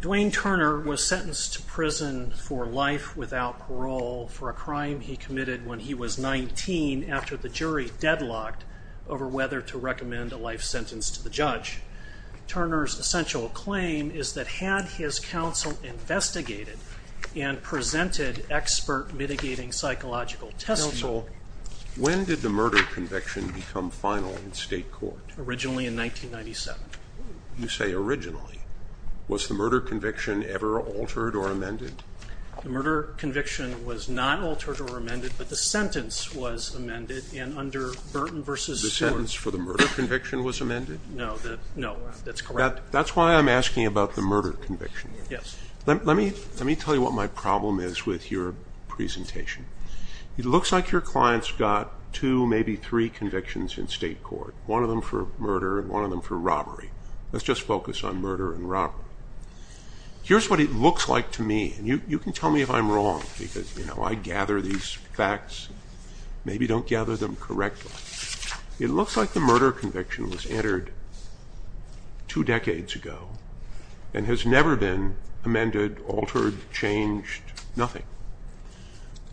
Dwayne Turner was sentenced to prison for life without parole for a crime he committed when he was 19 after the jury deadlocked over whether to recommend a life sentence to the mitigating psychological test. Counsel, when did the murder conviction become final in state court? Originally in 1997. You say originally. Was the murder conviction ever altered or amended? The murder conviction was not altered or amended, but the sentence was amended and under Burton v. The sentence for the murder conviction was amended? No, that's correct. That's why I'm asking about the murder conviction. Yes. Let me tell you what my problem is with your presentation. It looks like your client's got two, maybe three convictions in state court, one of them for murder and one of them for robbery. Let's just focus on murder and robbery. Here's what it looks like to me, and you can tell me if I'm wrong because I gather these facts, maybe don't gather them correctly. It looks like the murder conviction was entered two decades ago and has never been amended, altered, changed, nothing.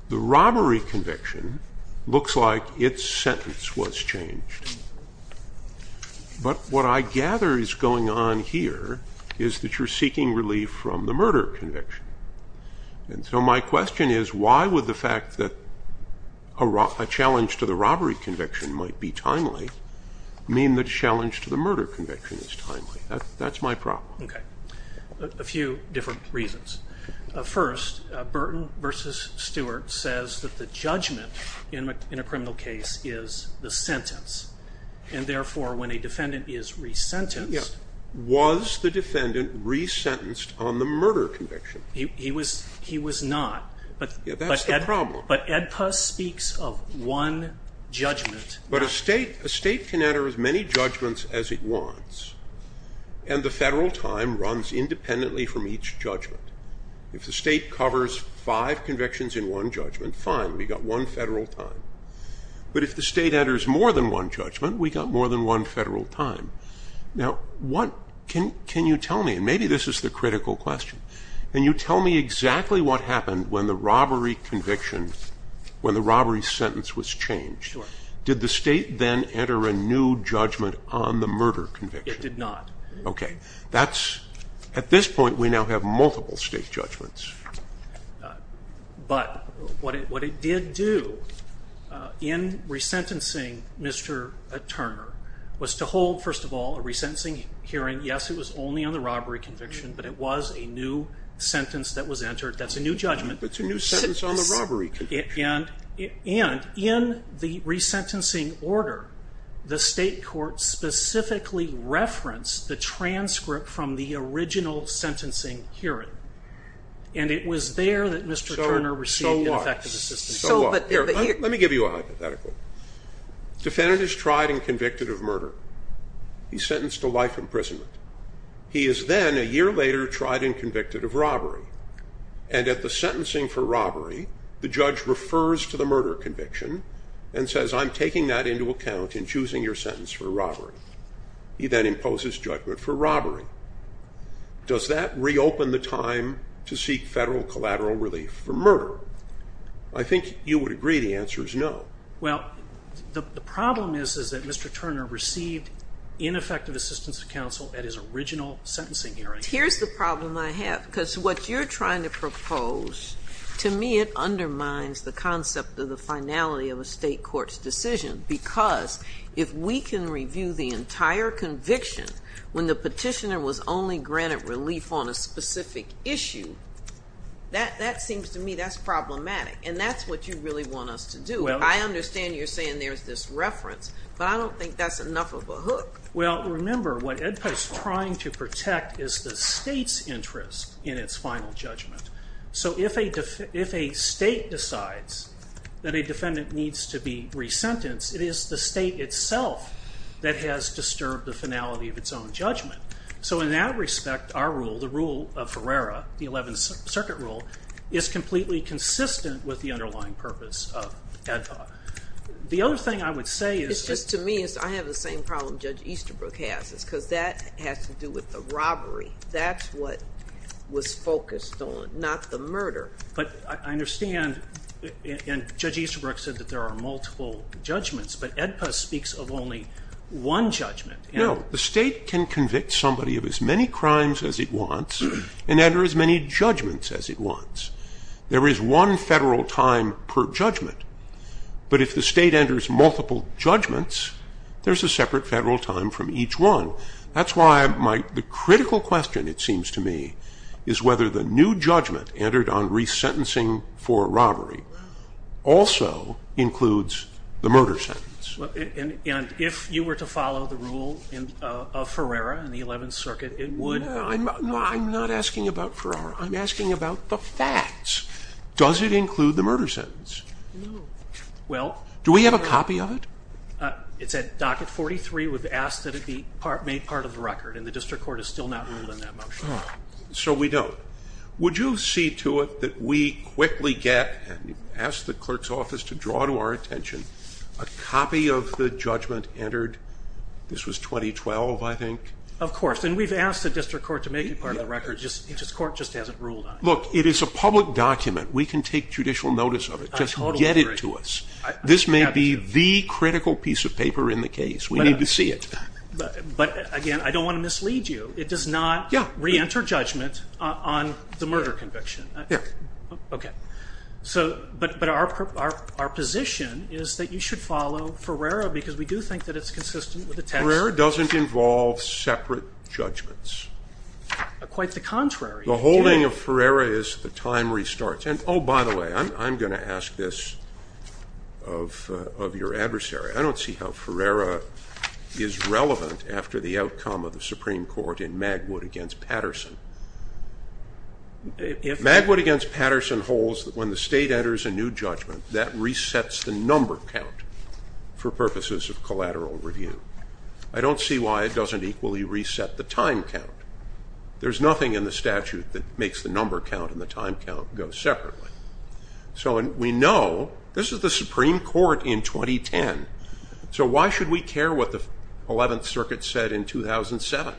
The robbery conviction looks like its sentence was changed, but what I gather is going on here is that you're seeking relief from the murder conviction. And so my question is, why would the fact that a challenge to the robbery conviction might be timely mean that a challenge to the murder conviction is timely? That's my problem. Okay. A few different reasons. First, Burton v. Stewart says that the judgment in a criminal case is the sentence. And therefore, when a defendant is re-sentenced- Yes. Was the defendant re-sentenced on the murder conviction? He was not. Yeah, that's the problem. But Edpus speaks of one judgment. But a state can enter as many judgments as it wants, and the federal time runs independently from each judgment. If the state covers five convictions in one judgment, fine, we got one federal time. But if the state enters more than one judgment, we got more than one federal time. Now, can you tell me, and maybe this is the critical question, can you tell me exactly what happened when the robbery conviction, when the robbery sentence was changed? Sure. Did the state then enter a new judgment on the murder conviction? It did not. Okay. That's, at this point, we now have multiple state judgments. But what it did do in re-sentencing Mr. Turner was to hold, first of all, a re-sentencing hearing. Yes, it was only on the robbery conviction, but it was a new sentence that was entered. That's a new judgment. But it's a new sentence on the robbery conviction. And in the re-sentencing order, the state court specifically referenced the transcript from the original sentencing hearing. And it was there that Mr. Turner received ineffective assistance. So what? Let me give you a hypothetical. Defendant is tried and convicted of murder. He's sentenced to life imprisonment. He is then, a year later, tried and convicted of robbery. And at the sentencing for robbery, the judge refers to the murder conviction and says, I'm taking that into account in choosing your sentence for robbery. He then imposes judgment for robbery. Does that reopen the time to seek federal collateral relief for murder? I think you would agree the answer is no. Well, the problem is, is that Mr. Turner received ineffective assistance of counsel at his original sentencing hearing. Here's the problem I have, because what you're trying to propose, to me it undermines the concept of the finality of a state court's decision. Because if we can review the entire conviction, when the petitioner was only granted relief on a specific issue, that seems to me that's problematic. And that's what you really want us to do. I understand you're saying there's this reference, but I don't think that's enough of a hook. Well, remember, what EDPA is trying to protect is the state's interest in its final judgment. So if a state decides that a defendant needs to be re-sentenced, it is the state itself that has disturbed the finality of its own judgment. So in that respect, our rule, the rule of Ferrera, the 11th Circuit rule, is completely consistent with the underlying purpose of EDPA. The other thing I would say is- It's just to me, I have the same problem Judge Easterbrook has, is because that has to do with the robbery. That's what was focused on, not the murder. But I understand, and Judge Easterbrook said that there are multiple judgments, but EDPA speaks of only one judgment. No, the state can convict somebody of as many crimes as it wants and enter as many judgments as it wants. There is one federal time per judgment. But if the state enters multiple judgments, there's a separate federal time from each one. That's why the critical question, it seems to me, is whether the new judgment entered on re-sentencing for robbery also includes the murder sentence. And if you were to follow the rule of Ferrera in the 11th Circuit, it would- No, I'm not asking about Ferrera. I'm asking about the facts. Does it include the murder sentence? No. Well- Do we have a copy of it? It's at docket 43. We've asked that it be made part of the record, and the district court has still not ruled on that motion. So we don't. Would you see to it that we quickly get, and ask the clerk's office to draw to our attention, a copy of the judgment entered, this was 2012, I think? Of course. And we've asked the district court to make it part of the record. The court just hasn't ruled on it. Look, it is a public document. We can take judicial notice of it. Just get it to us. This may be the critical piece of paper in the case. We need to see it. But again, I don't want to mislead you. It does not re-enter judgment on the murder conviction. Yeah. Okay. So, but our position is that you should follow Ferreira, because we do think that it's consistent with the text. Ferreira doesn't involve separate judgments. Quite the contrary. The holding of Ferreira is the time restarts. And oh, by the way, I'm going to ask this of your adversary. I don't see how Ferreira is relevant after the outcome of the Supreme Court in Magwood against Patterson. If... Magwood against Patterson holds that when the state enters a new judgment, that resets the number count for purposes of collateral review. I don't see why it doesn't equally reset the time count. There's nothing in the statute that makes the number count and the time count go separately. So we know this is the Supreme Court in 2010. So why should we care what the 11th Circuit said in 2007?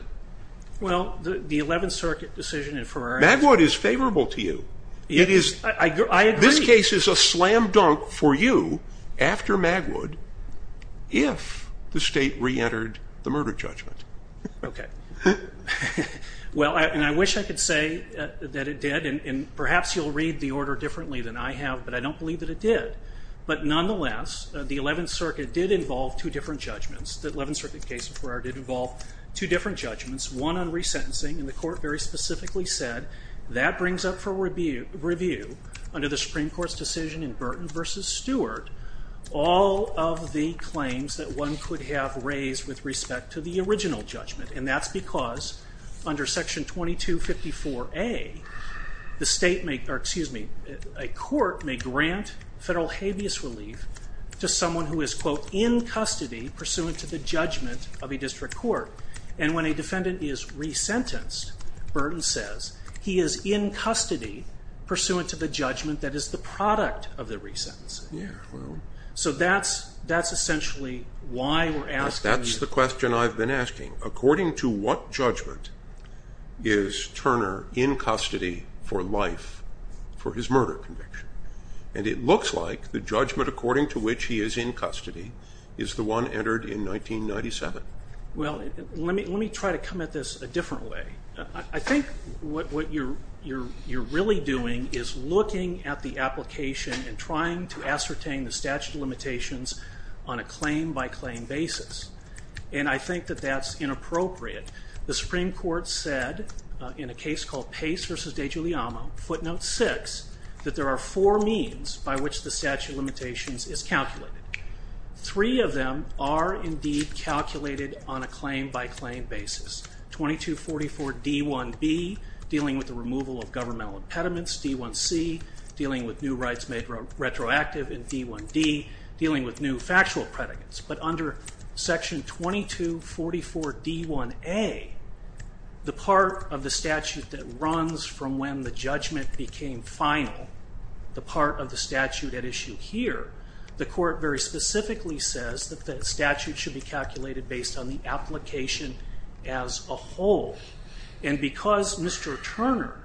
Well, the 11th Circuit decision in Ferreira... Magwood is favorable to you. It is... I agree. This case is a slam dunk for you after Magwood if the state re-entered the murder judgment. Okay. Well, and I wish I could say that it did, and perhaps you'll read the order differently than I have, but I don't believe that it did. But nonetheless, the 11th Circuit did involve two different judgments. The 11th Circuit case in Ferreira did involve two different judgments, one on resentencing. And the Court very specifically said that brings up for review under the Supreme Court's decision in Burton v. Stewart all of the claims that one could have raised with respect to the original judgment. And that's because under Section 2254A, the state may... of a district court. And when a defendant is resentenced, Burton says, he is in custody pursuant to the judgment that is the product of the resentencing. Yeah, well... So that's essentially why we're asking... That's the question I've been asking. According to what judgment is Turner in custody for life for his murder conviction? And it looks like the judgment according to which he is in custody is the one entered in 1997. Well, let me try to come at this a different way. I think what you're really doing is looking at the application and trying to ascertain the statute of limitations on a claim-by-claim basis. And I think that that's inappropriate. The Supreme Court said in a case called Pace v. DeGiuliano, footnote 6, that there are four means by which the statute of limitations is calculated. Three of them are indeed calculated on a claim-by-claim basis. 2244D1B, dealing with the removal of governmental impediments. D1C, dealing with new rights made retroactive. And D1D, dealing with new factual predicates. But under section 2244D1A, the part of the statute that runs from when the judgment became final, the part of the statute at issue here, the court very specifically says that the statute should be calculated based on the application as a whole. And because Mr. Turner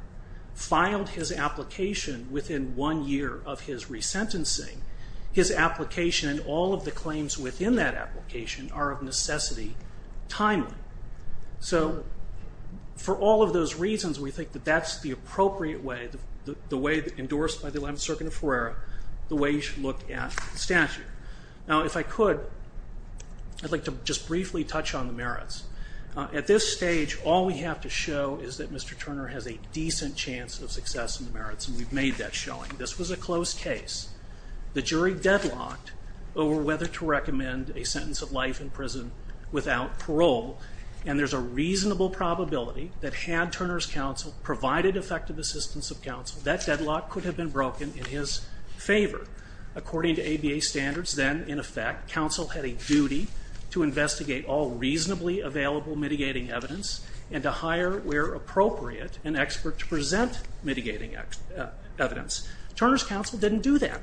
filed his application within one year of his resentencing, his application and all of the claims within that application are of necessity timely. So for all of those reasons, we think that that's the appropriate way, the way endorsed by the Eleventh Circuit of Ferreira, the way you should look at the statute. Now, if I could, I'd like to just briefly touch on the merits. At this stage, all we have to show is that Mr. Turner has a decent chance of success in the merits, and we've made that showing. This was a close case. The jury deadlocked over whether to recommend a sentence of life in prison without parole, and there's a reasonable probability that had Turner's counsel provided effective assistance of counsel, that deadlock could have been broken in his favor. According to ABA standards, then, in effect, counsel had a duty to investigate all reasonably available mitigating evidence and to hire, where appropriate, an expert to present mitigating evidence. Turner's counsel didn't do that.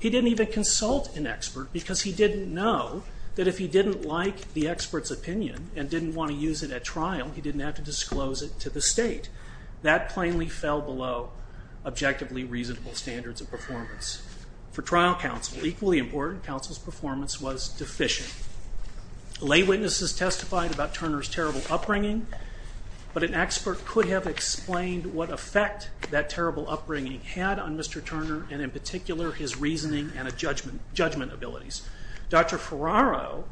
He didn't even consult an expert because he didn't know that if he didn't like the expert's opinion and didn't want to use it at trial, he didn't have to disclose it to the state. That plainly fell below objectively reasonable standards of performance. For trial counsel, equally important, counsel's performance was deficient. Lay witnesses testified about Turner's terrible upbringing, but an expert could have explained what effect that terrible upbringing had on Mr. Turner and, in particular, his reasoning and judgment abilities. Dr. Ferraro,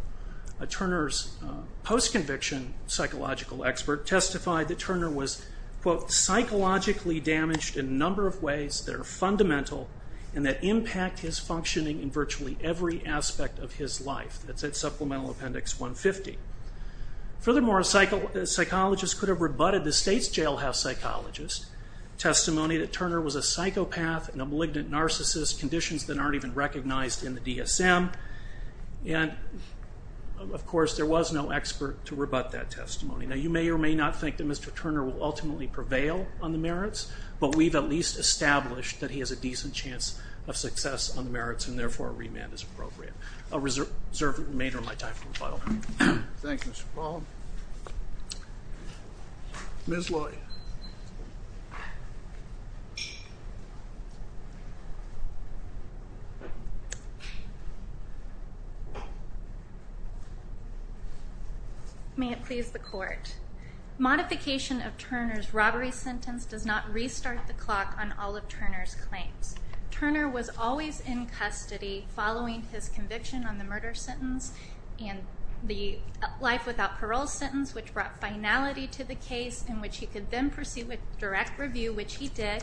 Turner's post-conviction psychological expert, testified that Turner was, quote, Supplemental Appendix 150. Furthermore, a psychologist could have rebutted the state's jailhouse psychologist's testimony that Turner was a psychopath and a malignant narcissist, conditions that aren't even recognized in the DSM. And, of course, there was no expert to rebut that testimony. Now, you may or may not think that Mr. Turner will ultimately prevail on the merits, but we've at least established that he has a decent chance of success on the merits and, therefore, a remand is appropriate. A reserved remainder might die from rebuttal. Thank you, Mr. Baum. Ms. Loy. May it please the Court. Modification of Turner's robbery sentence does not restart the clock on all of Turner's claims. Turner was always in custody following his conviction on the murder sentence and the life without parole sentence, which brought finality to the case in which he could then proceed with direct review, which he did,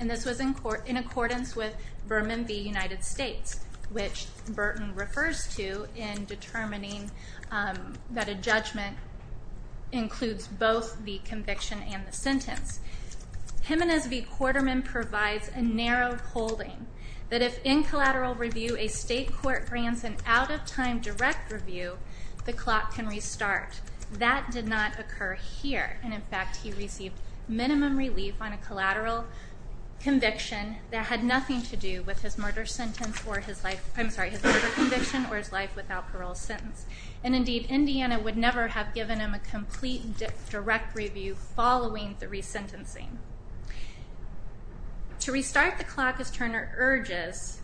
and this was in accordance with Berman v. United States, which Burton refers to in determining that a judgment includes both the conviction and the sentence. Jimenez v. Quarterman provides a narrow holding that if, in collateral review, a state court grants an out-of-time direct review, the clock can restart. That did not occur here, and, in fact, he received minimum relief on a collateral conviction that had nothing to do with his murder conviction or his life without parole sentence. And, indeed, Indiana would never have given him a complete direct review following the resentencing. To restart the clock, as Turner urges,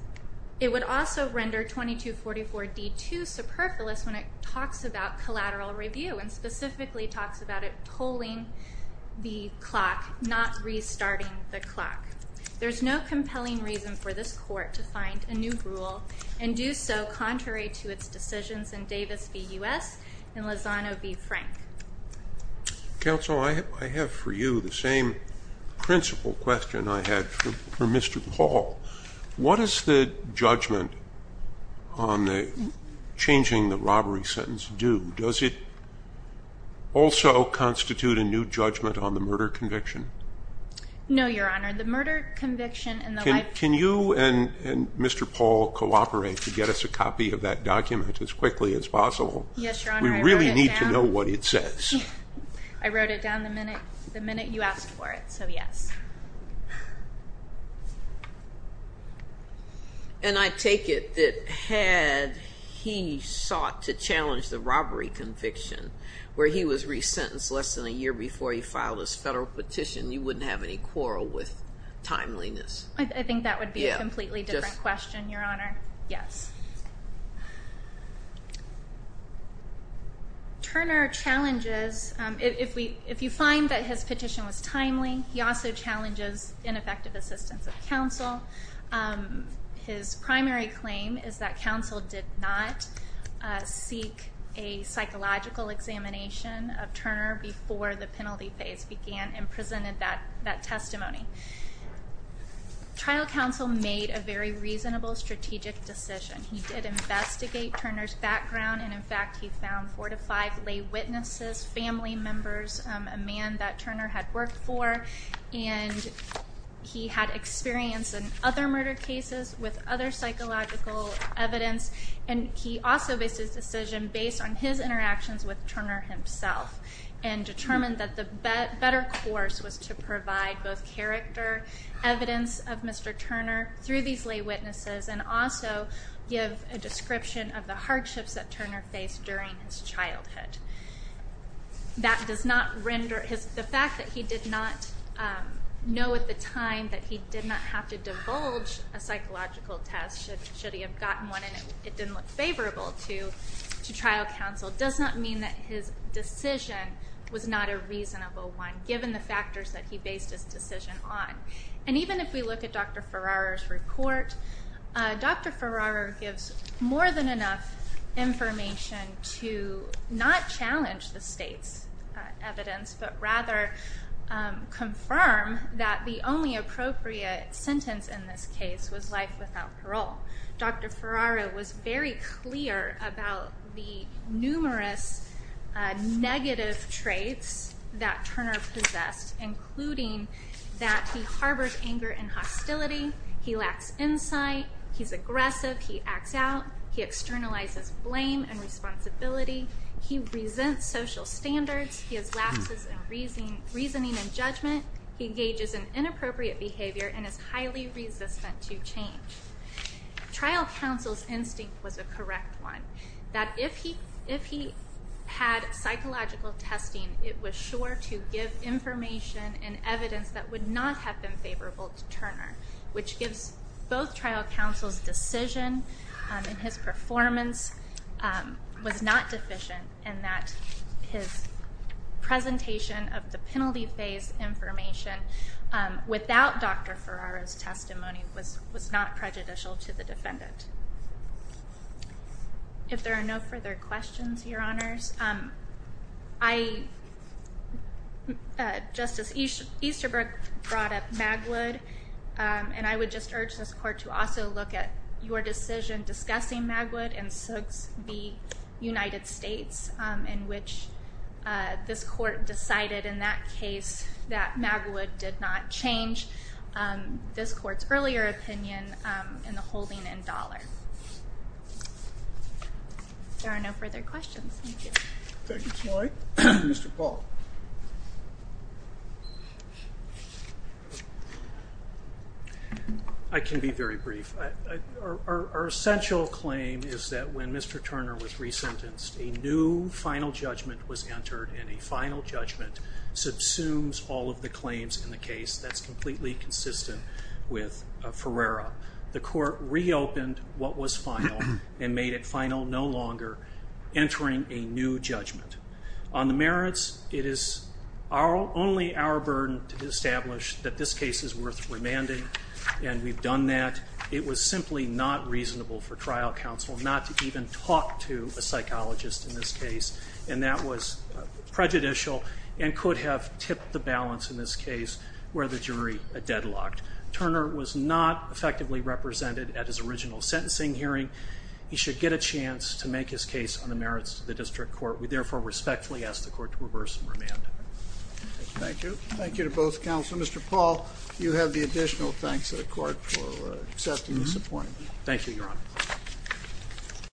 it would also render 2244d too superfluous when it talks about collateral review and specifically talks about it tolling the clock, not restarting the clock. There's no compelling reason for this Court to find a new rule and do so contrary to its decisions in Davis v. U.S. and Lozano v. Frank. Counsel, I have for you the same principle question I had for Mr. Paul. What does the judgment on changing the robbery sentence do? Does it also constitute a new judgment on the murder conviction? No, Your Honor. The murder conviction and the life without parole. Can you and Mr. Paul cooperate to get us a copy of that document as quickly as possible? Yes, Your Honor. I wrote it down. We really need to know what it says. I wrote it down the minute you asked for it, so yes. And I take it that had he sought to challenge the robbery conviction, where he was resentenced less than a year before he filed his federal petition, you wouldn't have any quarrel with timeliness. I think that would be a completely different question, Your Honor. Yes. Turner challenges, if you find that his petition was timely, he also challenges ineffective assistance of counsel. His primary claim is that counsel did not seek a psychological examination of Turner before the penalty phase began and presented that testimony. Trial counsel made a very reasonable strategic decision. He did investigate Turner's background, and in fact he found four to five lay witnesses, family members, a man that Turner had worked for, and he had experience in other murder cases with other psychological evidence, and he also based his decision based on his interactions with Turner himself and determined that the better course was to provide both character, evidence of Mr. Turner through these lay witnesses and also give a description of the hardships that Turner faced during his childhood. The fact that he did not know at the time that he did not have to divulge a psychological test, should he have gotten one and it didn't look favorable to trial counsel, does not mean that his decision was not a reasonable one, given the factors that he based his decision on. And even if we look at Dr. Ferraro's report, Dr. Ferraro gives more than enough information to not challenge the state's evidence but rather confirm that the only appropriate sentence in this case was life without parole. Dr. Ferraro was very clear about the numerous negative traits that Turner possessed, including that he harbors anger and hostility, he lacks insight, he's aggressive, he acts out, he externalizes blame and responsibility, he resents social standards, he has lapses in reasoning and judgment, he engages in inappropriate behavior and is highly resistant to change. Trial counsel's instinct was a correct one, that if he had psychological testing, it was sure to give information and evidence that would not have been favorable to Turner, which gives both trial counsel's decision and his performance was not deficient in that his presentation of the penalty phase information without Dr. Ferraro's testimony was not prejudicial to the defendant. If there are no further questions, Your Honors, Justice Easterbrook brought up Magwood, and I would just urge this court to also look at your decision discussing Magwood and Sook's v. United States, in which this court decided in that case that Magwood did not change this court's earlier opinion in the holding in dollar. If there are no further questions, thank you. Thank you, Snowy. Mr. Paul. I can be very brief. Our essential claim is that when Mr. Turner was resentenced, a new final judgment was entered, and a final judgment subsumes all of the claims in the case. That's completely consistent with Ferraro. The court reopened what was final and made it final no longer, entering a new judgment. On the merits, it is only our burden to establish that this case is worth remanding, and we've done that. It was simply not reasonable for trial counsel not to even talk to a psychologist in this case, and that was prejudicial and could have tipped the balance in this case where the jury deadlocked. Turner was not effectively represented at his original sentencing hearing. He should get a chance to make his case on the merits to the district court. We therefore respectfully ask the court to reverse and remand. Thank you. Thank you to both counsel. Mr. Paul, you have the additional thanks of the court for accepting this appointment. Thank you, Your Honor.